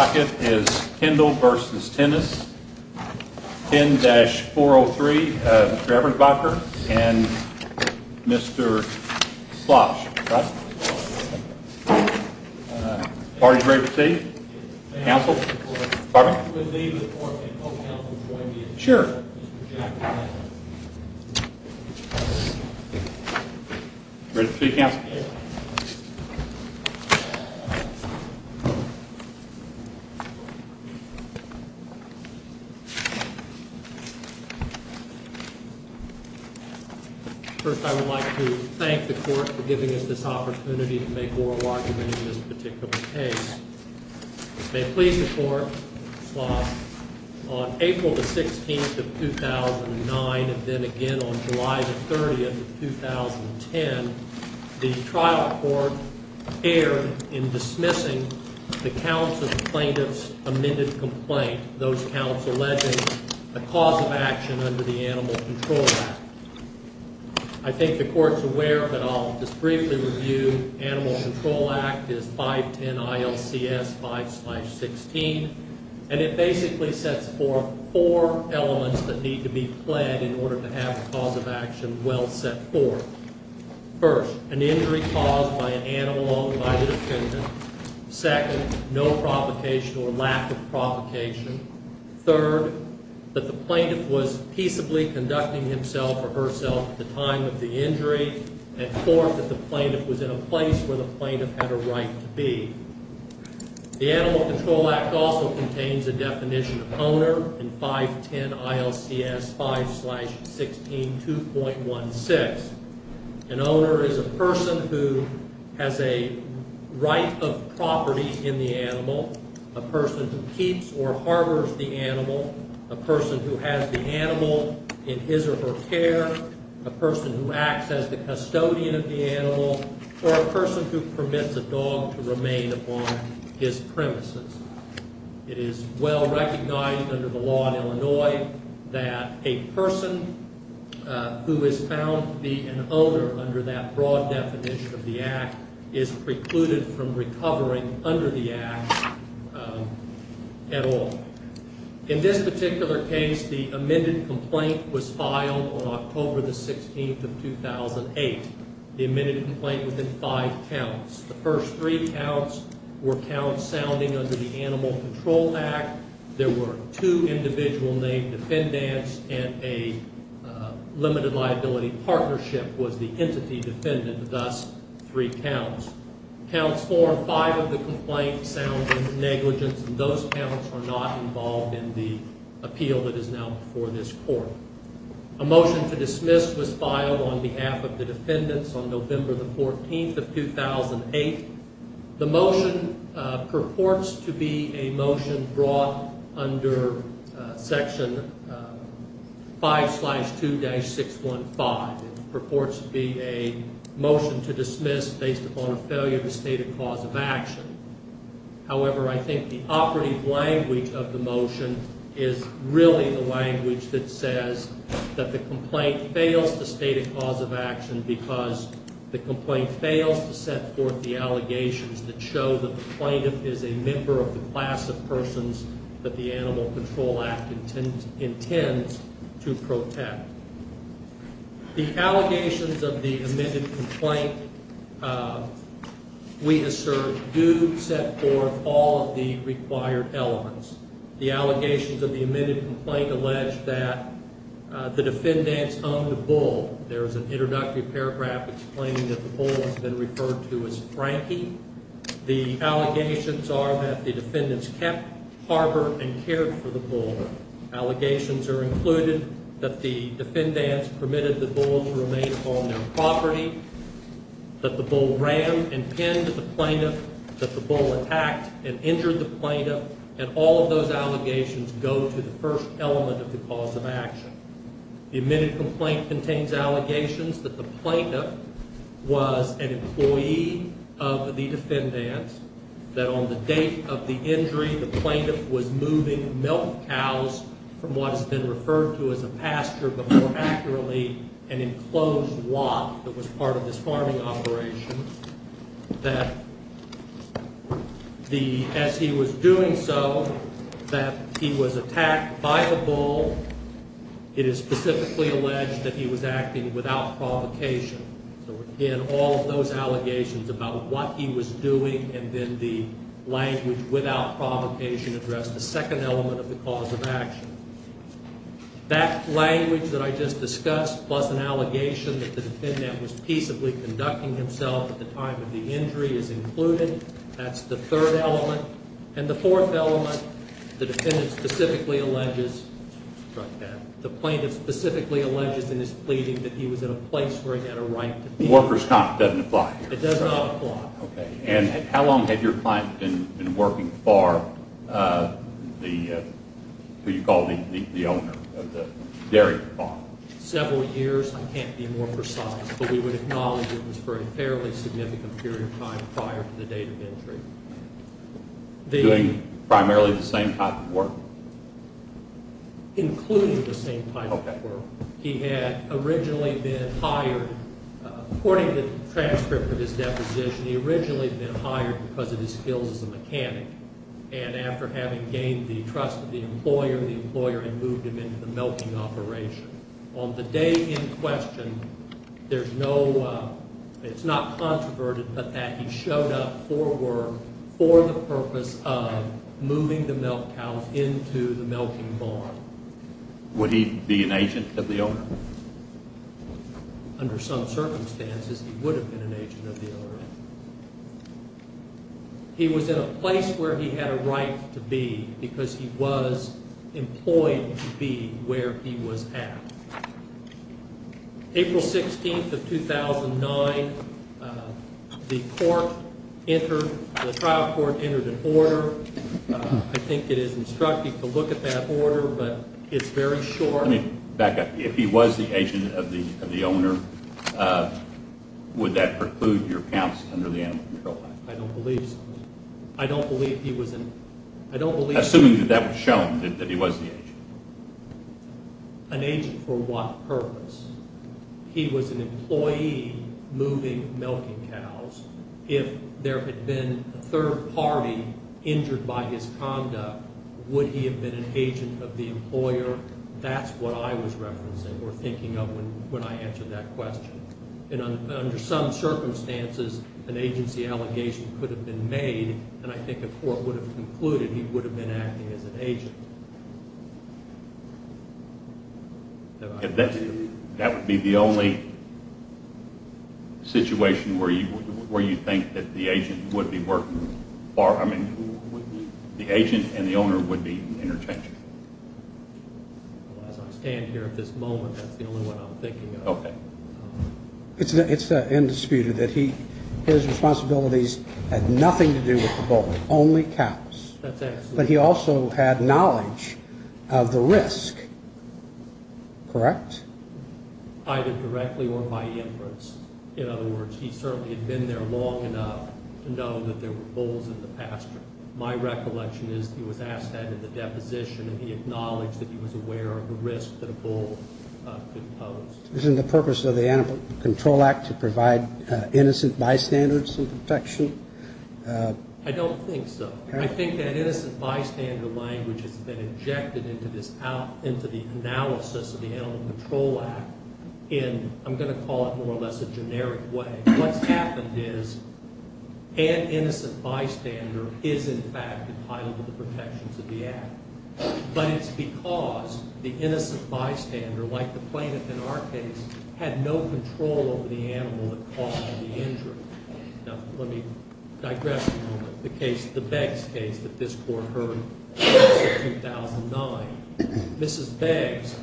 10-403, Mr. Ebersbacher and Mr. Schloss. Are you ready to proceed? First, I would like to thank the court for giving us this opportunity to make oral argument in this particular case. May it please the court, Mr. Schloss, on April the 16th of 2009 and then again on July the 30th of 2010, the trial court erred in dismissing the counsel plaintiff's amended complaint, those counsel alleging a cause of action under the Animal Control Act is 510 ILCS 5-16, and it basically sets forth four elements that need to be pled in order to have a cause of action well set forth. First, an injury caused by an animal owned by the defendant. Second, no provocation or lack of provocation. Third, that the plaintiff was peaceably conducting himself or herself at the time of the injury. And fourth, that the plaintiff was in a place where the plaintiff had a right to be. The Animal Control Act also contains a definition of owner in 510 ILCS 5-16, 2.16. An owner is a person who has a right of property in the animal, a person who keeps or harbors the animal, a person who has the animal in his or her care, a person who acts as the custodian of the animal, or a person who permits a dog to remain upon his premises. It is well recognized under the law in Illinois that a person who is found to be an owner under that broad definition of the act is precluded from recovering under the act at all. In this particular case, the amended complaint was filed on October the 16th of 2008. The amended complaint was in five counts. The first three counts were counts sounding under the Animal Control Act. There were two individual named defendants, and a limited liability partnership was the entity defendant, thus three counts. Counts four and five of the complaint sound negligence, and those counts are not involved in the appeal that is now before this Court. A motion to dismiss was filed on behalf of the defendants on November the 14th of 2008. The motion purports to be a motion brought under Section 5-2-615. It purports to be a motion to dismiss based upon a failure to state a cause of action. However, I think the operative language of the motion is really the language that says that the complaint fails to state a cause of action because the complaint fails to set forth the allegations that show that the plaintiff is a member of the class of persons that the Animal Control Act intends to protect. The allegations of the amended complaint, we assert, do set forth all of the required elements. The allegations of the amended complaint allege that the defendants owned the bull. There is an introductory paragraph explaining that the bull has been referred to as Frankie. The allegations are that the defendants kept, harbored, and cared for the bull. Allegations are included that the defendants permitted the bull to remain on their property, that the bull ran and pinned the plaintiff, that the bull attacked and injured the plaintiff, and all of those allegations go to the first element of the cause of action. The amended that on the date of the injury, the plaintiff was moving milk cows from what has been referred to as a pasture, but more accurately, an enclosed lot that was part of this farming operation. That as he was doing so, that he was attacked by the bull. It is specifically alleged that he was acting without provocation. So again, all of those allegations about what he was doing and then the language without provocation address the second element of the cause of action. That language that I just discussed, plus an allegation that the defendant was peaceably conducting himself at the time of the injury is included. That's the third element. And the fourth element, the defendant specifically alleges, the plaintiff specifically alleges in his pleading that he was at a place where he had a right to be. The worker's comp doesn't apply here. It does not apply. Okay. And how long had your client been working for the, who you call the owner of the dairy farm? Several years. I can't be more precise, but we would acknowledge it was for a fairly significant period of time prior to the date of injury. Doing primarily the same type of work? Including the same type of work. He had originally been hired, according to the transcript of his deposition, he originally had been hired because of his skills as a mechanic. And after having gained the trust of the employer, the employer had moved him into the milking operation. On the day in question, there's no, it's not controverted, but that he showed up for work for the purpose of moving the milk cows into the milking barn. Would he be an agent of the owner? Under some circumstances, he would have been an agent of the owner. He was in a place where he had a right to be because he was employed to be where he was at. April 16th of 2009, the court entered, the trial court entered an order. I think it is instructive to look at that order, but it's very short. Let me back up. If he was the agent of the owner, would that preclude your counts under the Animal Control Act? I don't believe so. I don't believe he was an, I don't believe. Assuming that that was shown, that he was the agent. An agent for what purpose? He was an employee moving milking cows. If there had been a third party injured by his conduct, would he have been an agent of the employer? That's what I was referencing or thinking of when I answered that question. And under some circumstances, an agency allegation could have been made, and I think a court That would be the only situation where you think that the agent would be working, or I mean, the agent and the owner would be interchanged. As I stand here at this moment, that's the only one I'm thinking of. Okay. It's undisputed that his responsibilities had nothing to do with the bull, only cows. That's excellent. But he also had knowledge of the risk. Correct? Either directly or by inference. In other words, he certainly had been there long enough to know that there were bulls in the pasture. My recollection is he was asked that in the deposition, and he acknowledged that he was aware of the risk that a bull could pose. Isn't the purpose of the Animal Control Act to provide innocent bystanders some protection? I don't think so. I think that innocent bystander language has been injected into the analysis of the Animal Control Act in, I'm going to call it more or less a generic way. What's happened is an innocent bystander is, in fact, entitled to the protections of the act. But it's because the innocent bystander, like the plaintiff in our case, had no control over the animal that caused him the injury. Now, let me digress for a moment. The case, the Beggs case that this Court heard in 2009, Mrs. Beggs,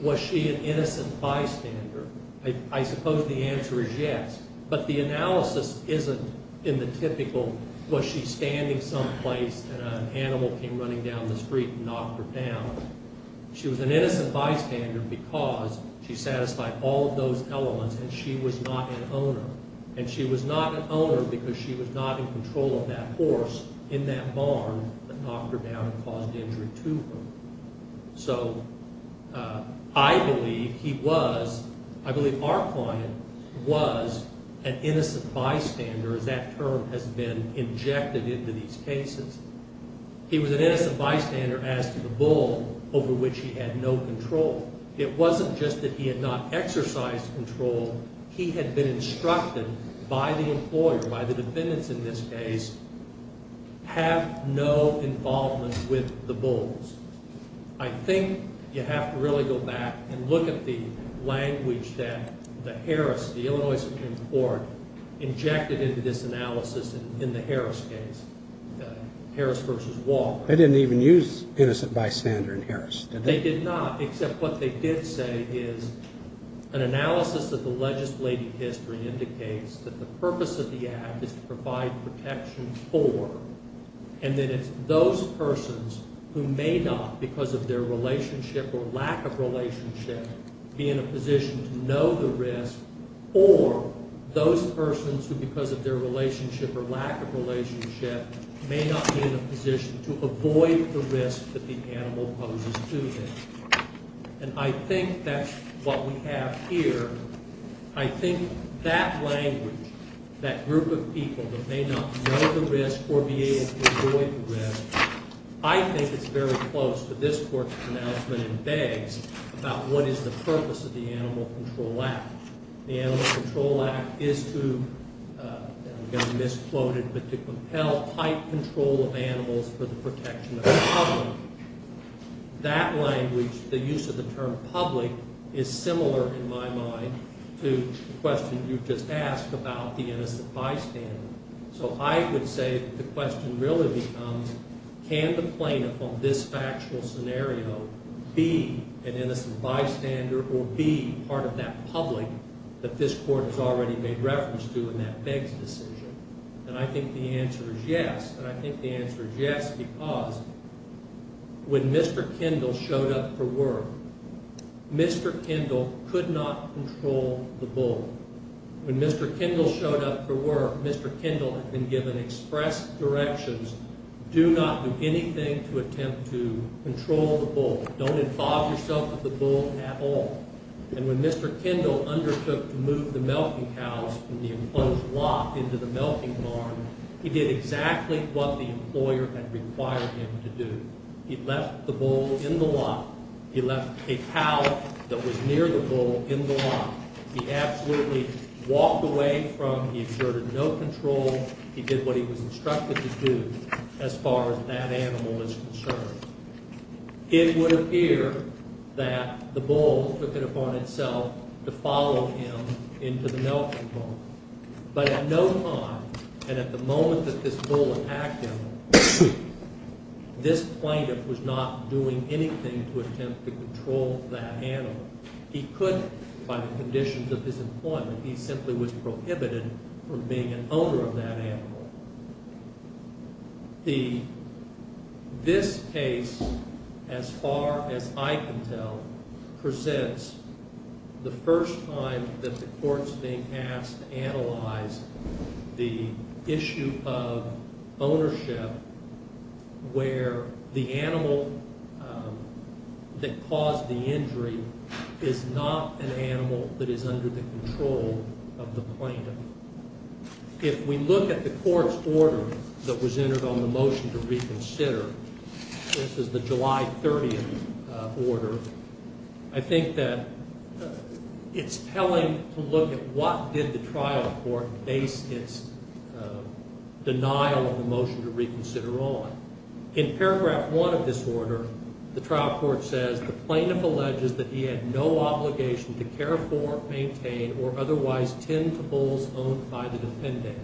was she an innocent bystander? I suppose the answer is yes. But the analysis isn't in the typical, was she standing someplace and an animal came running down the street and knocked her down? She was an innocent bystander because she satisfied all of those elements and she was not an owner. And she was not an owner because she was not in control of that horse in that barn that knocked her down and caused injury to her. So, I believe he was, I believe our client was an innocent bystander, as that term has been injected into these cases. He was an innocent bystander as to the bull over which he had no control. It wasn't just that he had not exercised control. He had been instructed by the employer, by the defendants in this case, have no involvement with the bulls. I think you have to really go back and look at the language that the Harris, the Illinois Supreme Court, injected into this analysis in the Harris case. Harris versus Walker. They didn't even use innocent bystander in Harris, did they? They did not, except what they did say is an analysis of the legislative history indicates that the purpose of the act is to provide protection for, and that it's those persons who may not, because of their relationship or lack of relationship, be in a position to know the risk, or those persons who, because of their relationship or lack of relationship, may not be in a position to avoid the risk that the animal poses to them. And I think that's what we have here. I think that language, that group of people that may not know the risk or be able to avoid the risk, I think it's very close to this court's announcement in Beggs about what is the purpose of the Animal Control Act. The Animal Control Act is to, and I'm going to misquote it, but to compel tight control of animals for the protection of the public. That language, the use of the term public, is similar in my mind to the question you just asked about the innocent bystander. So I would say the question really becomes, can the plaintiff on this factual scenario be an innocent bystander or be part of that public that this court has already made reference to in that Beggs decision? And I think the answer is yes. And I think the answer is yes because when Mr. Kendall showed up for work, Mr. Kendall could not control the bull. When Mr. Kendall showed up for work, Mr. Kendall had been given express directions, do not do anything to attempt to control the bull. Don't involve yourself with the bull at all. And when Mr. Kendall undertook to move the milking cows from the enclosed lot into the milking farm, he did exactly what the employer had required him to do. He left the bull in the lot. He left a cow that was near the bull in the lot. He absolutely walked away from, he exerted no control. He did what he was instructed to do as far as that animal is concerned. It would appear that the bull took it upon itself to follow him into the milking farm. But at no time and at the moment that this bull attacked him, this plaintiff was not doing anything to attempt to control that animal. He couldn't by the conditions of his employment. He simply was prohibited from being an owner of that animal. This case, as far as I can tell, presents the first time that the court is being asked to analyze the issue of ownership where the animal that caused the injury is not an animal that is under the control of the plaintiff. If we look at the court's order that was entered on the motion to reconsider, this is the July 30th order, I think that it's telling to look at what did the trial court base its denial of the motion to reconsider on. In paragraph one of this order, the trial court says, the plaintiff alleges that he had no obligation to care for, maintain, or otherwise tend to bulls owned by the defendant.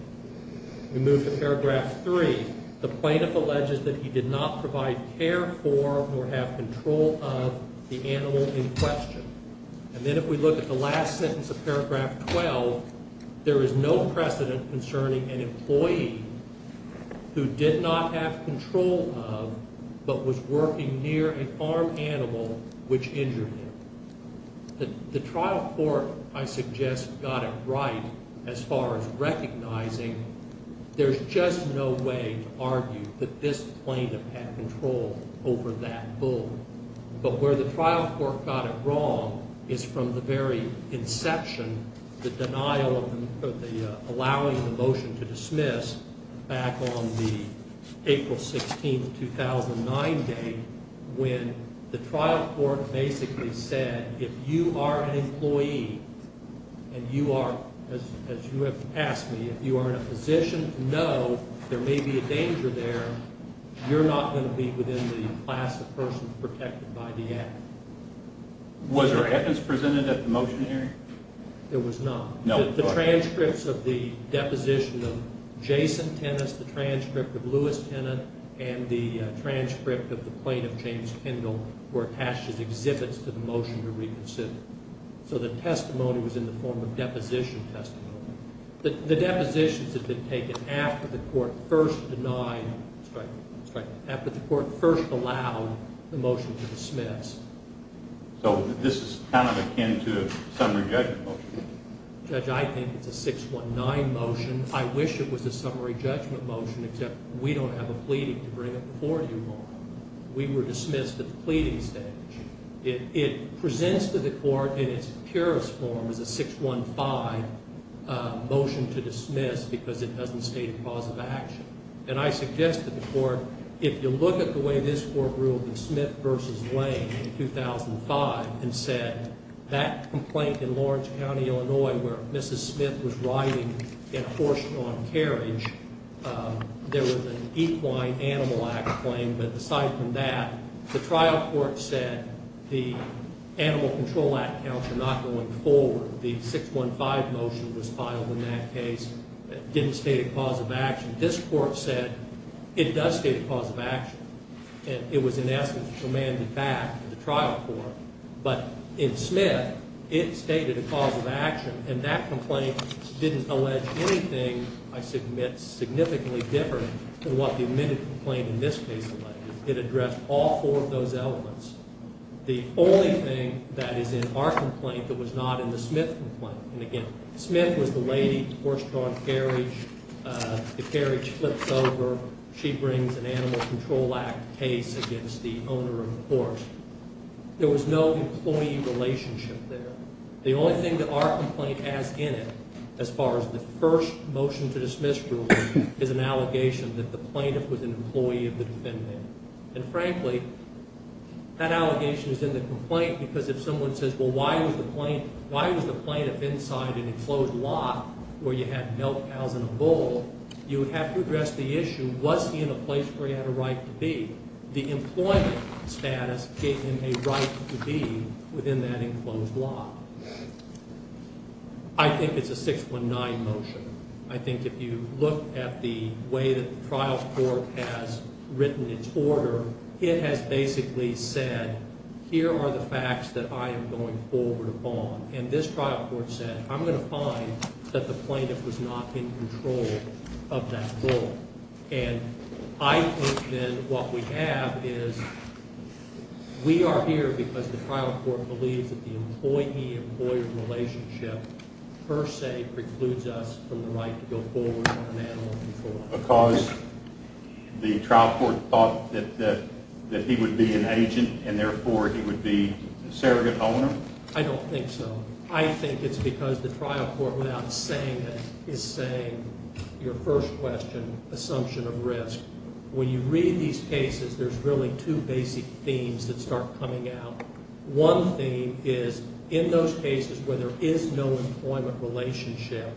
We move to paragraph three. The plaintiff alleges that he did not provide care for nor have control of the animal in question. And then if we look at the last sentence of paragraph 12, there is no precedent concerning an employee who did not have control of but was working near an armed animal which injured him. The trial court, I suggest, got it right as far as recognizing there's just no way to argue that this plaintiff had control over that bull. But where the trial court got it wrong is from the very inception, the denial of the allowing the motion to dismiss back on the April 16th, 2009 date, when the trial court basically said if you are an employee and you are, as you have asked me, if you are in a position to know there may be a danger there, you're not going to be within the class of person protected by the act. Was there evidence presented at the motion hearing? There was not. The transcripts of the deposition of Jason Tennis, the transcript of Louis Tennant, and the transcript of the plaintiff, James Kendall, were attached as exhibits to the motion to reconsider. So the testimony was in the form of deposition testimony. The depositions had been taken after the court first allowed the motion to dismiss. So this is kind of akin to a summary judgment motion. Judge, I think it's a 619 motion. I wish it was a summary judgment motion, except we don't have a pleading to bring it before you on. We were dismissed at the pleading stage. It presents to the court in its purest form as a 615 motion to dismiss because it doesn't state a cause of action. And I suggest to the court if you look at the way this court ruled in Smith v. Lane in 2005 and said that complaint in Lawrence County, Illinois, where Mrs. Smith was riding in a horse-drawn carriage, there was an Equine Animal Act claim. But aside from that, the trial court said the Animal Control Act counts are not going forward. The 615 motion was filed in that case. It didn't state a cause of action. This court said it does state a cause of action. And it was in essence commanded back to the trial court. But in Smith, it stated a cause of action. And that complaint didn't allege anything, I submit, significantly different than what the admitted complaint in this case alleged. It addressed all four of those elements. The only thing that is in our complaint that was not in the Smith complaint, and again, Smith was the lady, horse-drawn carriage. The carriage flips over. She brings an Animal Control Act case against the owner of the horse. There was no employee relationship there. The only thing that our complaint has in it, as far as the first motion to dismiss rule, is an allegation that the plaintiff was an employee of the defendant. And frankly, that allegation is in the complaint because if someone says, well, why was the plaintiff inside an enclosed lot where you had milk cows and a bull, you would have to address the issue, was he in a place where he had a right to be? The employment status gave him a right to be within that enclosed lot. I think it's a 619 motion. I think if you look at the way that the trial court has written its order, it has basically said, here are the facts that I am going forward upon. And this trial court said, I'm going to find that the plaintiff was not in control of that bull. And I think then what we have is we are here because the trial court believes that the employee-employee relationship per se precludes us from the right to go forward on an animal control act. Because the trial court thought that he would be an agent and therefore he would be a surrogate owner? I don't think so. I think it's because the trial court, without saying it, is saying your first question, assumption of risk. When you read these cases, there's really two basic themes that start coming out. One theme is in those cases where there is no employment relationship,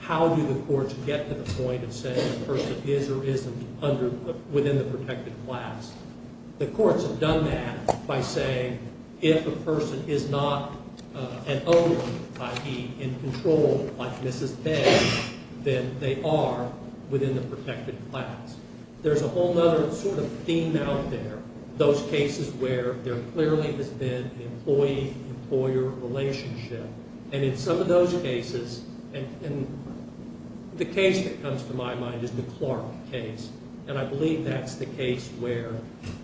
how do the courts get to the point of saying the person is or isn't within the protected class? The courts have done that by saying if a person is not an owner, i.e., in control like Mrs. Bess, then they are within the protected class. There's a whole other sort of theme out there, those cases where there clearly has been an employee-employer relationship. And in some of those cases, and the case that comes to my mind is the Clark case, and I believe that's the case where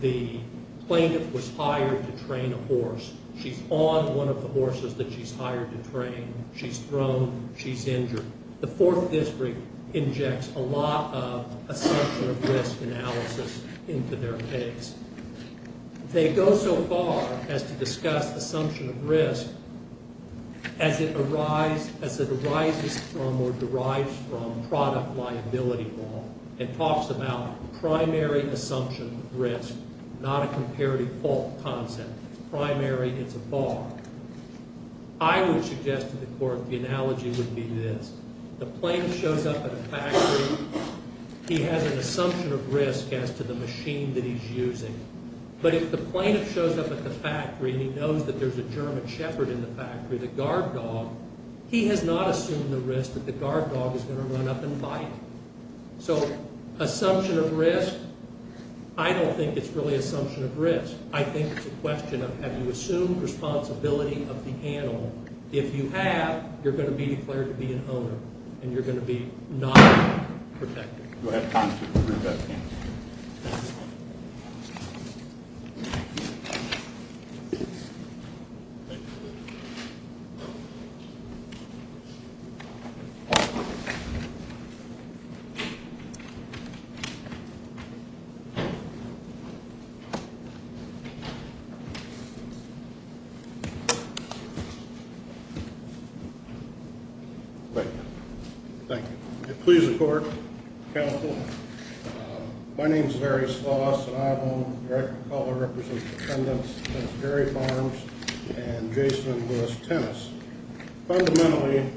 the plaintiff was hired to train a horse. She's on one of the horses that she's hired to train. She's thrown. She's injured. The Fourth District injects a lot of assumption of risk analysis into their case. They go so far as to discuss assumption of risk as it arises from or derives from product liability law and talks about primary assumption of risk, not a comparative fault concept. It's primary. It's a bar. I would suggest to the court the analogy would be this. The plaintiff shows up at a factory. He has an assumption of risk as to the machine that he's using. But if the plaintiff shows up at the factory and he knows that there's a German shepherd in the factory, the guard dog, he has not assumed the risk that the guard dog is going to run up and bite him. So assumption of risk, I don't think it's really assumption of risk. I think it's a question of have you assumed responsibility of the animal. If you have, you're going to be declared to be an owner, and you're going to be not protected. Go ahead. Thank you. Please, the court. Counsel. My name is Larry Sloss, and I, along with the director of color, represent the defendants, Judge Gary Barnes and Jason Lewis-Tennis. Fundamentally,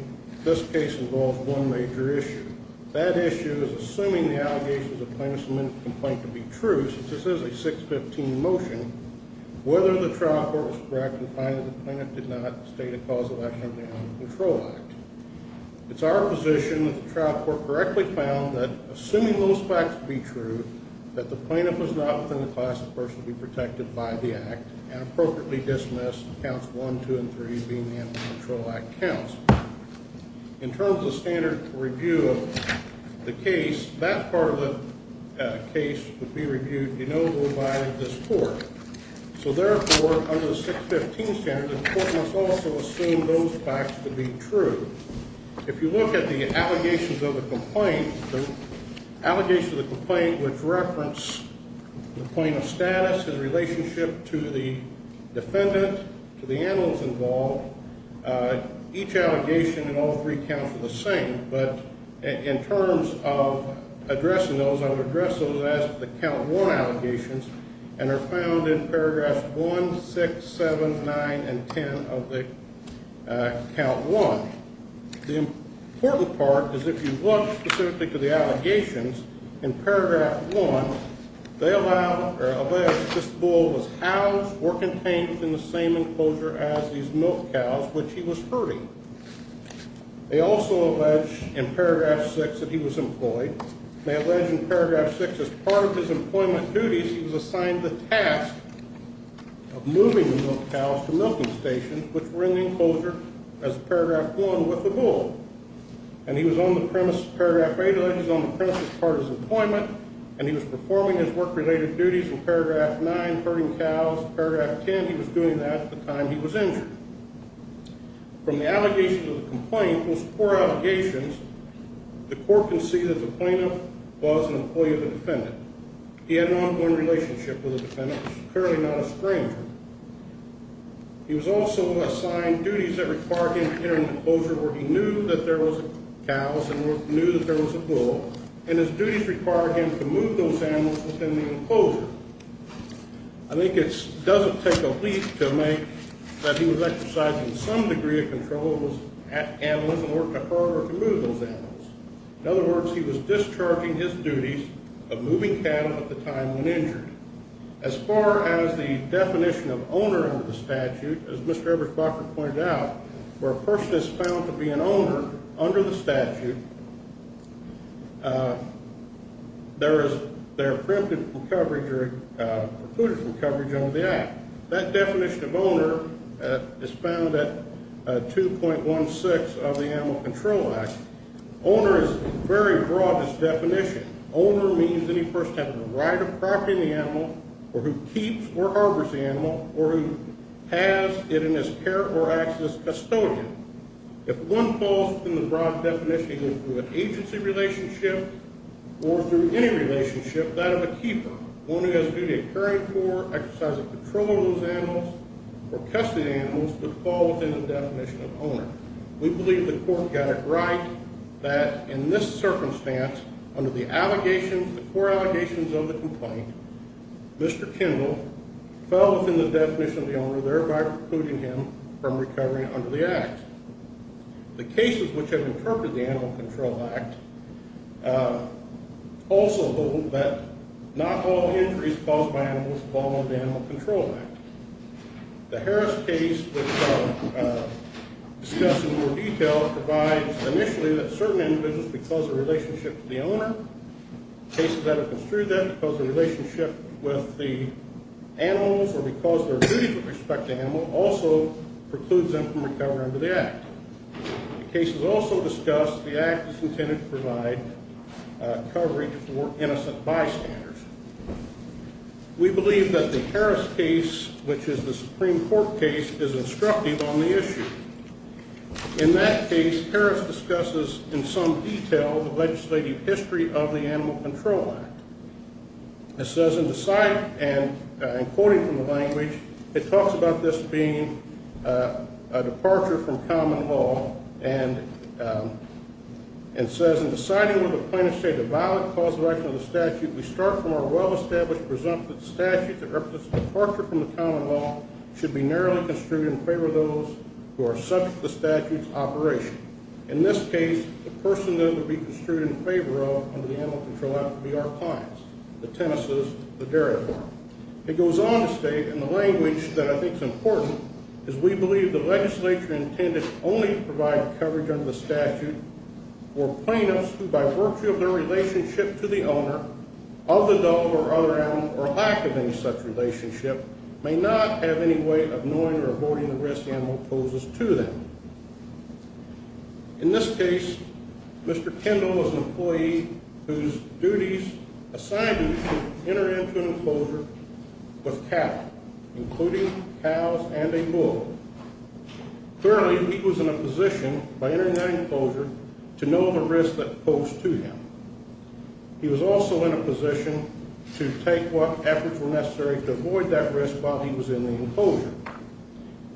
this case involves one major issue. That issue is assuming the allegations of plaintiff's amended complaint to be true, since this is a 615 motion, whether the trial court was correct in finding the plaintiff did not state a cause of action in the Animal Control Act. It's our position that the trial court correctly found that assuming those facts to be true, that the plaintiff was not within the class of person to be protected by the act and appropriately dismissed counts one, two, and three being the Animal Control Act counts. In terms of standard review of the case, that part of the case would be reviewed de novo by this court. So, therefore, under the 615 standard, the court must also assume those facts to be true. If you look at the allegations of the complaint, the allegations of the complaint which reference the plaintiff's status, his relationship to the defendant, to the animals involved, each allegation in all three counts are the same. But in terms of addressing those, I would address those as the count one allegations and are found in paragraphs one, six, seven, nine, and ten of the count one. The important part is if you look specifically to the allegations in paragraph one, they allege this bull was housed or contained within the same enclosure as these milk cows which he was herding. They also allege in paragraph six that he was employed. They allege in paragraph six as part of his employment duties he was assigned the task of moving the milk cows to milking stations which were in the enclosure as paragraph one with the bull. And he was on the premise, paragraph eight alleges, on the premise as part of his employment and he was performing his work-related duties in paragraph nine, herding cows. Paragraph ten, he was doing that at the time he was injured. From the allegations of the complaint, those four allegations, the court can see that the plaintiff was an employee of the defendant. He had an ongoing relationship with the defendant. He was clearly not a stranger. He was also assigned duties that required him to enter an enclosure where he knew that there was cows and knew that there was a bull, and his duties required him to move those animals within the enclosure. I think it doesn't take a leap to make that he was exercising some degree of control over his animals and worked to herd or to move those animals. In other words, he was discharging his duties of moving cattle at the time when injured. As far as the definition of owner under the statute, as Mr. Ebersbacher pointed out, where a person is found to be an owner under the statute, there is their preemptive coverage or precluded from coverage under the act. That definition of owner is found at 2.16 of the Animal Control Act. Owner is very broad, this definition. Owner means any person who has the right of property to the animal or who keeps or harbors the animal or who has it in his care or acts as custodian. If one falls within the broad definition, either through an agency relationship or through any relationship, that of a keeper, one who has a duty of caring for, exercising control over those animals, or custody of the animals would fall within the definition of owner. We believe the court got it right that in this circumstance, under the allegations, the core allegations of the complaint, Mr. Kendall fell within the definition of the owner, thereby precluding him from recovering under the act. The cases which have interpreted the Animal Control Act also hold that not all injuries caused by animals fall under the Animal Control Act. The Harris case, which I'll discuss in more detail, provides initially that certain individuals, because of their relationship to the owner, cases that have construed that, because of their relationship with the animals or because of their duties with respect to animals, also precludes them from recovering under the act. The case is also discussed, the act is intended to provide coverage for innocent bystanders. We believe that the Harris case, which is the Supreme Court case, is instructive on the issue. In that case, Harris discusses in some detail the legislative history of the Animal Control Act. It says, and quoting from the language, it talks about this being a departure from common law, and it says, in deciding whether the plaintiff stated a violent cause of action of the statute, we start from our well-established presumptive statute that represents a departure from the common law, should be narrowly construed in favor of those who are subject to the statute's operation. In this case, the person that it would be construed in favor of under the Animal Control Act would be our clients, the tennises, the dairy farmers. It goes on to state, in the language that I think is important, is we believe the legislature intended only to provide coverage under the statute for plaintiffs who, by virtue of their relationship to the owner of the dog or other animal, or lack of any such relationship, may not have any way of knowing or avoiding the risk the animal poses to them. In this case, Mr. Kendall was an employee whose duties assigned him to enter into an enclosure with cattle, including cows and a bull. Clearly, he was in a position, by entering that enclosure, to know the risk that posed to him. He was also in a position to take what efforts were necessary to avoid that risk while he was in the enclosure.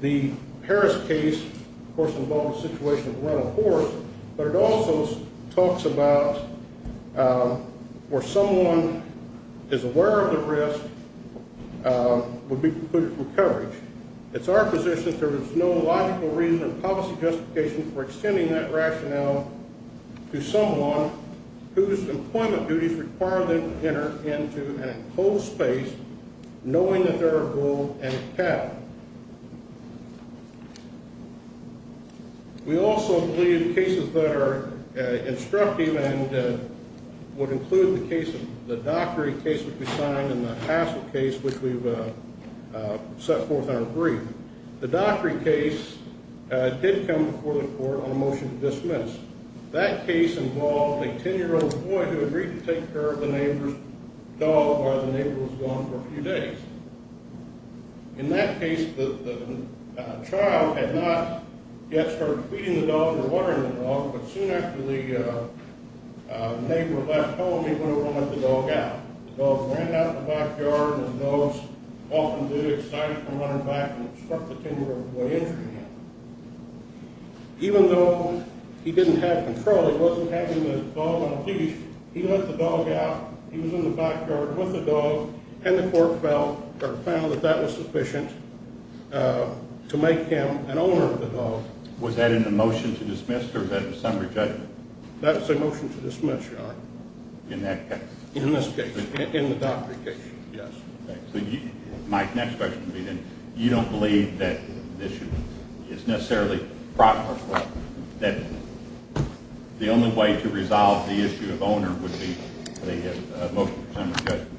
The Harris case, of course, involves the situation of the rental horse, but it also talks about where someone is aware of the risk would be precluded from coverage. It's our position that there is no logical reason or policy justification for extending that rationale to someone whose employment duties require them to enter into an enclosed space, knowing that there are bull and cattle. We also believe cases that are instructive and would include the case of the Dockery case, which we signed, and the Hassel case, which we've set forth in our brief. The Dockery case did come before the court on a motion to dismiss. That case involved a 10-year-old boy who agreed to take care of the neighbor's dog while the neighbor was gone for a few days. In that case, the child had not yet started feeding the dog or watering the dog, but soon after the neighbor left home, he went over and let the dog out. The dog ran out of the back yard, his nose off in the air, excited from running back, and struck the 10-year-old boy in the head. Even though he didn't have control, he wasn't having the dog on a leash, he let the dog out. He was in the backyard with the dog, and the court found that that was sufficient to make him an owner of the dog. Was that in the motion to dismiss or was that a summary judgment? That was a motion to dismiss, Your Honor. In that case? In this case, in the Dockery case, yes. Okay, so my next question would be, then, you don't believe that the issue is necessarily proper? That the only way to resolve the issue of owner would be a motion to dismiss judgment?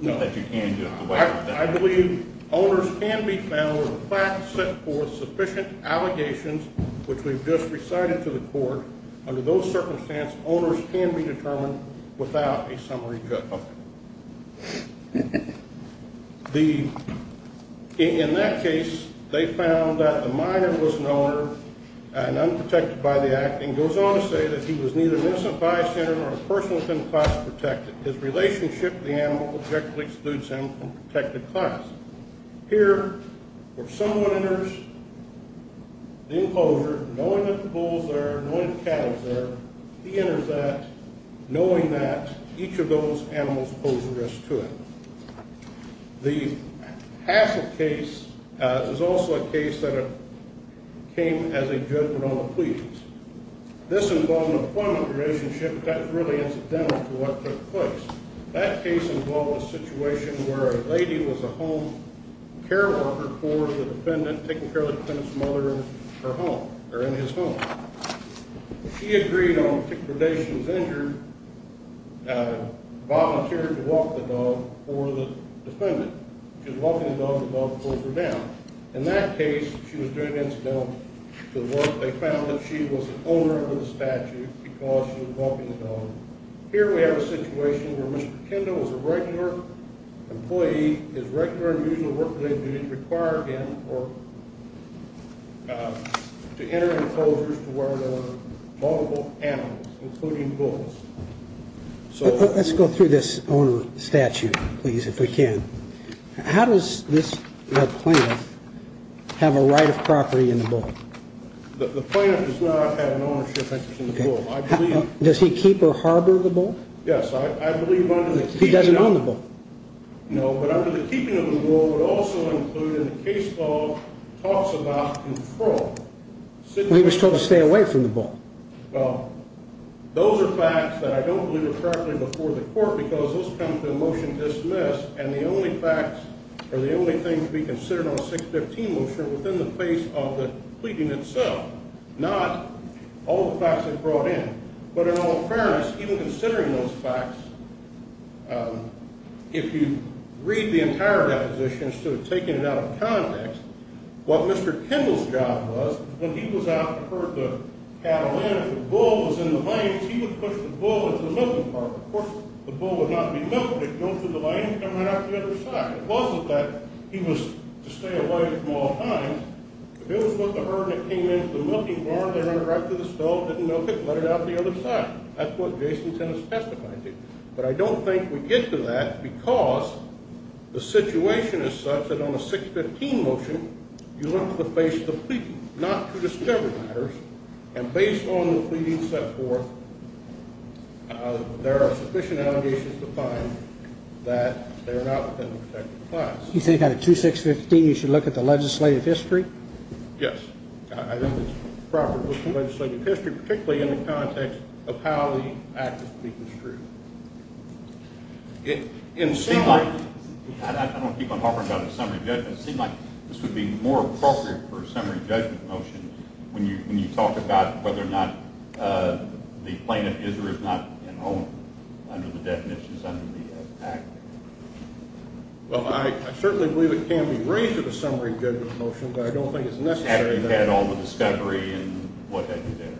No. That you can do it the way it's done? I believe owners can be found with facts set forth, sufficient allegations, which we've just recited to the court. Under those circumstances, owners can be determined without a summary judgment. In that case, they found that the minor was an owner and unprotected by the acting. It goes on to say that he was neither an innocent bystander nor a person within the class of protected. His relationship with the animal objectively excludes him from protected class. Here, where someone enters the enclosure, knowing that the bull's there, knowing that the cattle's there, he enters that, knowing that each of those animals pose a risk to him. The Hassle case is also a case that came as a judgment on the pleas. This involved an appointment relationship that really is identical to what took place. That case involved a situation where a lady was a home care worker for the defendant, taking care of the defendant's mother in her home, or in his home. She agreed on predation as injured, volunteered to walk the dog for the defendant. She was walking the dog and the dog pulled her down. In that case, she was doing incidental to the work. They found that she was the owner of the statue because she was walking the dog. Here we have a situation where Mr. Kendall is a regular employee. His regular and usual work that they do is require him to enter enclosures to where there are multiple animals, including bulls. Let's go through this owner of the statue, please, if we can. How does this plaintiff have a right of property in the bull? The plaintiff does not have an ownership interest in the bull. Does he keep or harbor the bull? Yes, I believe he doesn't own the bull. No, but under the keeping of the bull would also include in the case law talks about control. He was told to stay away from the bull. Well, those are facts that I don't believe are correctly before the court because those come to a motion to dismiss, and the only facts are the only thing to be considered on a 615 motion within the face of the pleading itself, not all the facts they brought in. But in all fairness, even considering those facts, if you read the entire deposition, instead of taking it out of context, what Mr. Kendall's job was, when he was out to herd the cattle in, if the bull was in the lanes, he would push the bull into the milking park. Of course, the bull would not be milked. It would go through the lane and run out the other side. It wasn't that he was to stay away from all times. The bull was about to herd and it came into the milking barn, they run it right through the stove, didn't milk it, let it out the other side. That's what Jason Tennis testified to. But I don't think we get to that because the situation is such that on a 615 motion, you look to the face of the pleading not to discover matters. And based on the pleading set forth, there are sufficient allegations to find that they're not within the protected class. You think out of 2615, you should look at the legislative history? Yes. I think it's proper to look at the legislative history, particularly in the context of how the act is being construed. It seems like this would be more appropriate for a summary judgment motion when you talk about whether or not the plaintiff is or is not enrolling under the definitions under the act. Well, I certainly believe it can be raised at a summary judgment motion, but I don't think it's necessary. After you've had all the discovery and what have you there.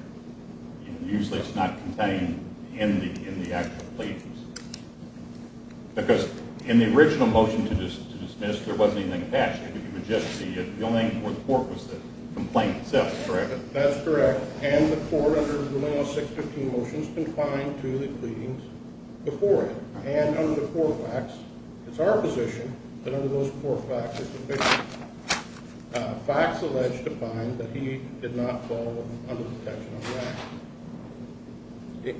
Usually it's not contained in the actual pleadings. Because in the original motion to dismiss, there wasn't anything attached. It was just the complaint itself, correct? That's correct. And the court, under the 615 motions, confined to the pleadings before it. And under the four facts, it's our position that under those four facts, it's sufficient. Facts allege to find that he did not fall under the detection of the act.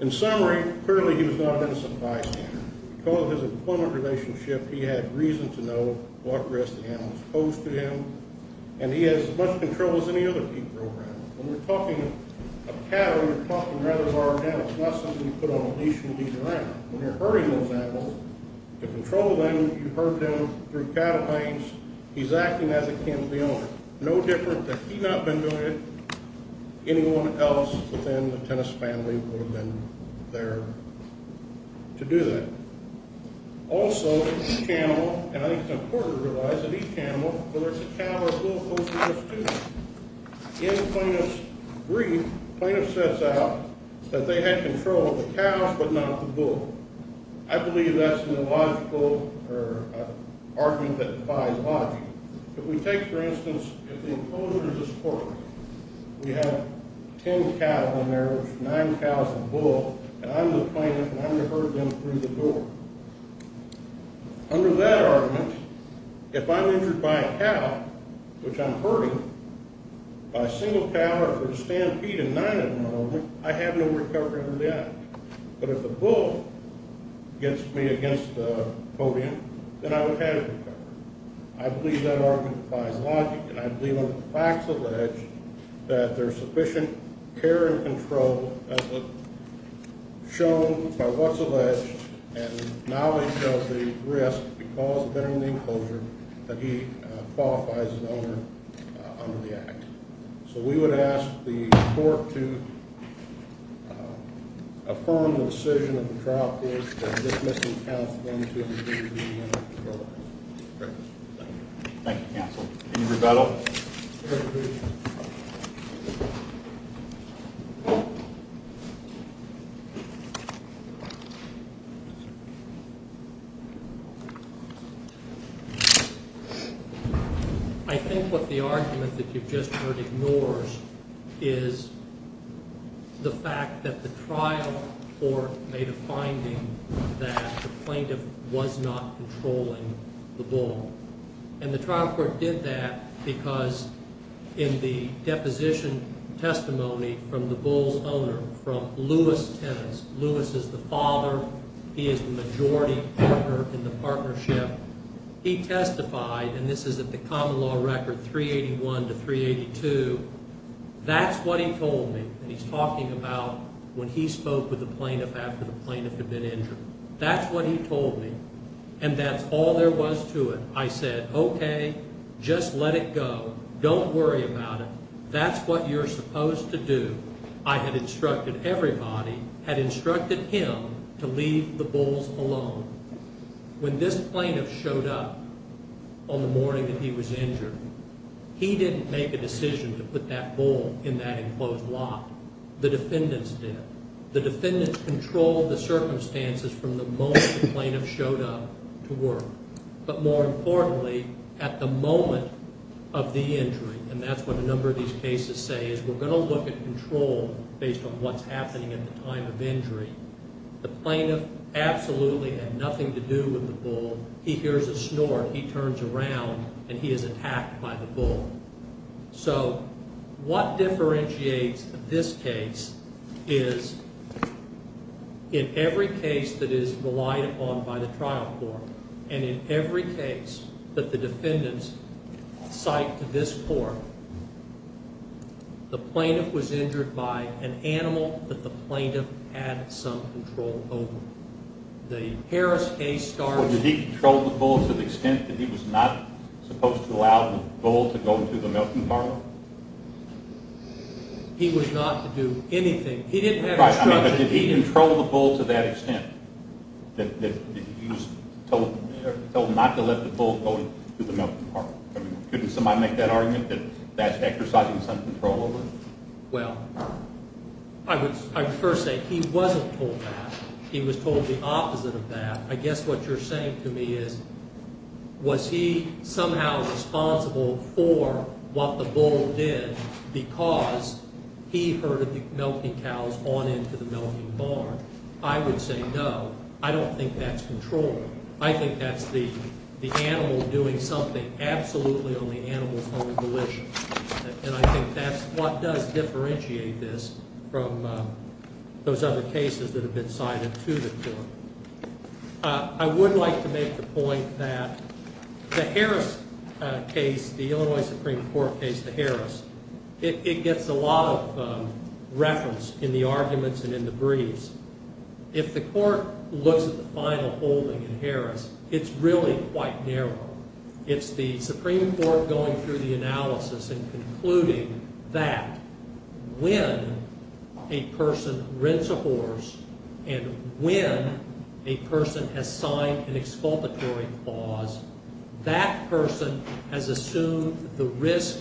In summary, clearly he was not an innocent bystander. Because of his employment relationship, he had reason to know what risks the animals posed to him. And he has as much control as any other people around him. When you're talking of cattle, you're talking rather of our animals, not something you put on a leash and leave around. When you're herding those animals, to control them, you herd them through cattle planes. He's acting as akin to the owner. No different that he not been doing it, anyone else within the tennis family would have been there to do that. Also, each animal, and I think it's important to realize that each animal, whether it's a cow or a bull, poses a stupefaction. In plaintiff's brief, the plaintiff sets out that they had control of the cows but not the bull. I believe that's an argument that defies logic. If we take, for instance, the enclosure of this court, we have ten cows in there, nine cows and a bull. And I'm the plaintiff and I'm going to herd them through the door. Under that argument, if I'm injured by a cow, which I'm herding, by a single cow or a stampede and nine of them are over me, I have no recovery under the act. But if the bull gets me against the podium, then I would have a recovery. I believe that argument defies logic, and I believe when the facts allege that there's sufficient care and control shown by what's alleged, and knowledge of the risk because of entering the enclosure, that he qualifies as an owner under the act. So we would ask the court to affirm the decision in the trial case that this missing cow is going to be the owner of the bull. Thank you, counsel. Any rebuttal? I think what the argument that you've just heard ignores is the fact that the trial court made a finding that the plaintiff was not controlling the bull. And the trial court did that because in the deposition testimony from the bull's owner, from Lewis Tennis, Lewis is the father, he is the majority partner in the partnership, he testified, and this is at the common law record 381 to 382, that's what he told me that he's talking about when he spoke with the plaintiff after the plaintiff had been injured. That's what he told me, and that's all there was to it. I said, okay, just let it go. Don't worry about it. That's what you're supposed to do. I had instructed everybody, had instructed him to leave the bulls alone. When this plaintiff showed up on the morning that he was injured, he didn't make a decision to put that bull in that enclosed lot. The defendants did. The defendants controlled the circumstances from the moment the plaintiff showed up to work. But more importantly, at the moment of the injury, and that's what a number of these cases say, is we're going to look at control based on what's happening at the time of injury. The plaintiff absolutely had nothing to do with the bull. He hears a snort, he turns around, and he is attacked by the bull. So what differentiates this case is in every case that is relied upon by the trial court and in every case that the defendants cite to this court, the plaintiff was injured by an animal that the plaintiff had some control over. Well, did he control the bull to the extent that he was not supposed to allow the bull to go to the milking parlor? He was not to do anything. He didn't have instruction. Right, but did he control the bull to that extent that he was told not to let the bull go to the milking parlor? Couldn't somebody make that argument that that's exercising some control over it? Well, I would first say he wasn't told that. He was told the opposite of that. I guess what you're saying to me is, was he somehow responsible for what the bull did because he herded the milking cows on into the milking barn? I would say no. I don't think that's control. I think that's the animal doing something absolutely on the animal's own volition. And I think that's what does differentiate this from those other cases that have been cited to the court. I would like to make the point that the Harris case, the Illinois Supreme Court case, the Harris, it gets a lot of reference in the arguments and in the briefs. If the court looks at the final holding in Harris, it's really quite narrow. It's the Supreme Court going through the analysis and concluding that when a person rents a horse and when a person has signed an exculpatory clause, that person has assumed the risk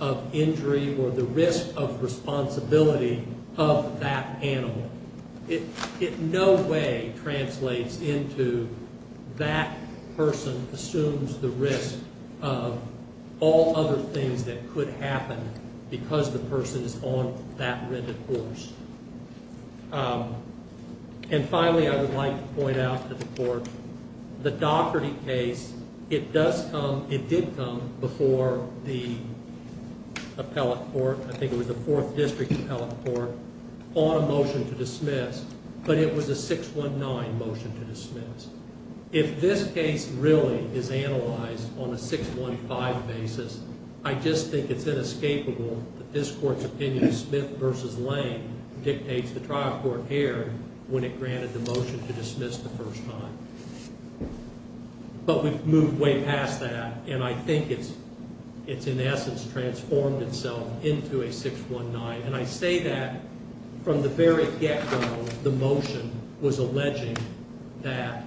of injury or the risk of responsibility of that animal. It in no way translates into that person assumes the risk of all other things that could happen because the person is on that rented horse. And finally, I would like to point out to the court, the Dougherty case, it does come, it did come before the appellate court, I think it was the 4th District Appellate Court, on a motion to dismiss, but it was a 619 motion to dismiss. If this case really is analyzed on a 615 basis, I just think it's inescapable that this court's opinion, Smith v. Lane, dictates the trial court error when it granted the motion to dismiss the first time. But we've moved way past that, and I think it's in essence transformed itself into a 619. And I say that from the very get-go, the motion was alleging that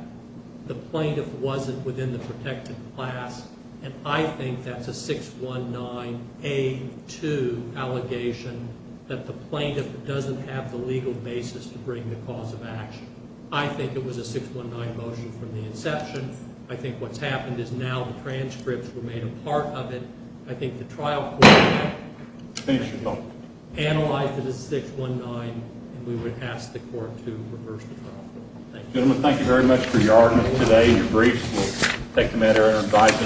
the plaintiff wasn't within the protected class, and I think that's a 619A2 allegation that the plaintiff doesn't have the legal basis to bring the cause of action. I think it was a 619 motion from the inception. I think what's happened is now the transcripts were made a part of it. I think the trial court analyzed it as 619, and we would ask the court to reverse the trial. Thank you. Gentlemen, thank you very much for your argument today, your briefs. We'll take the matter under revising.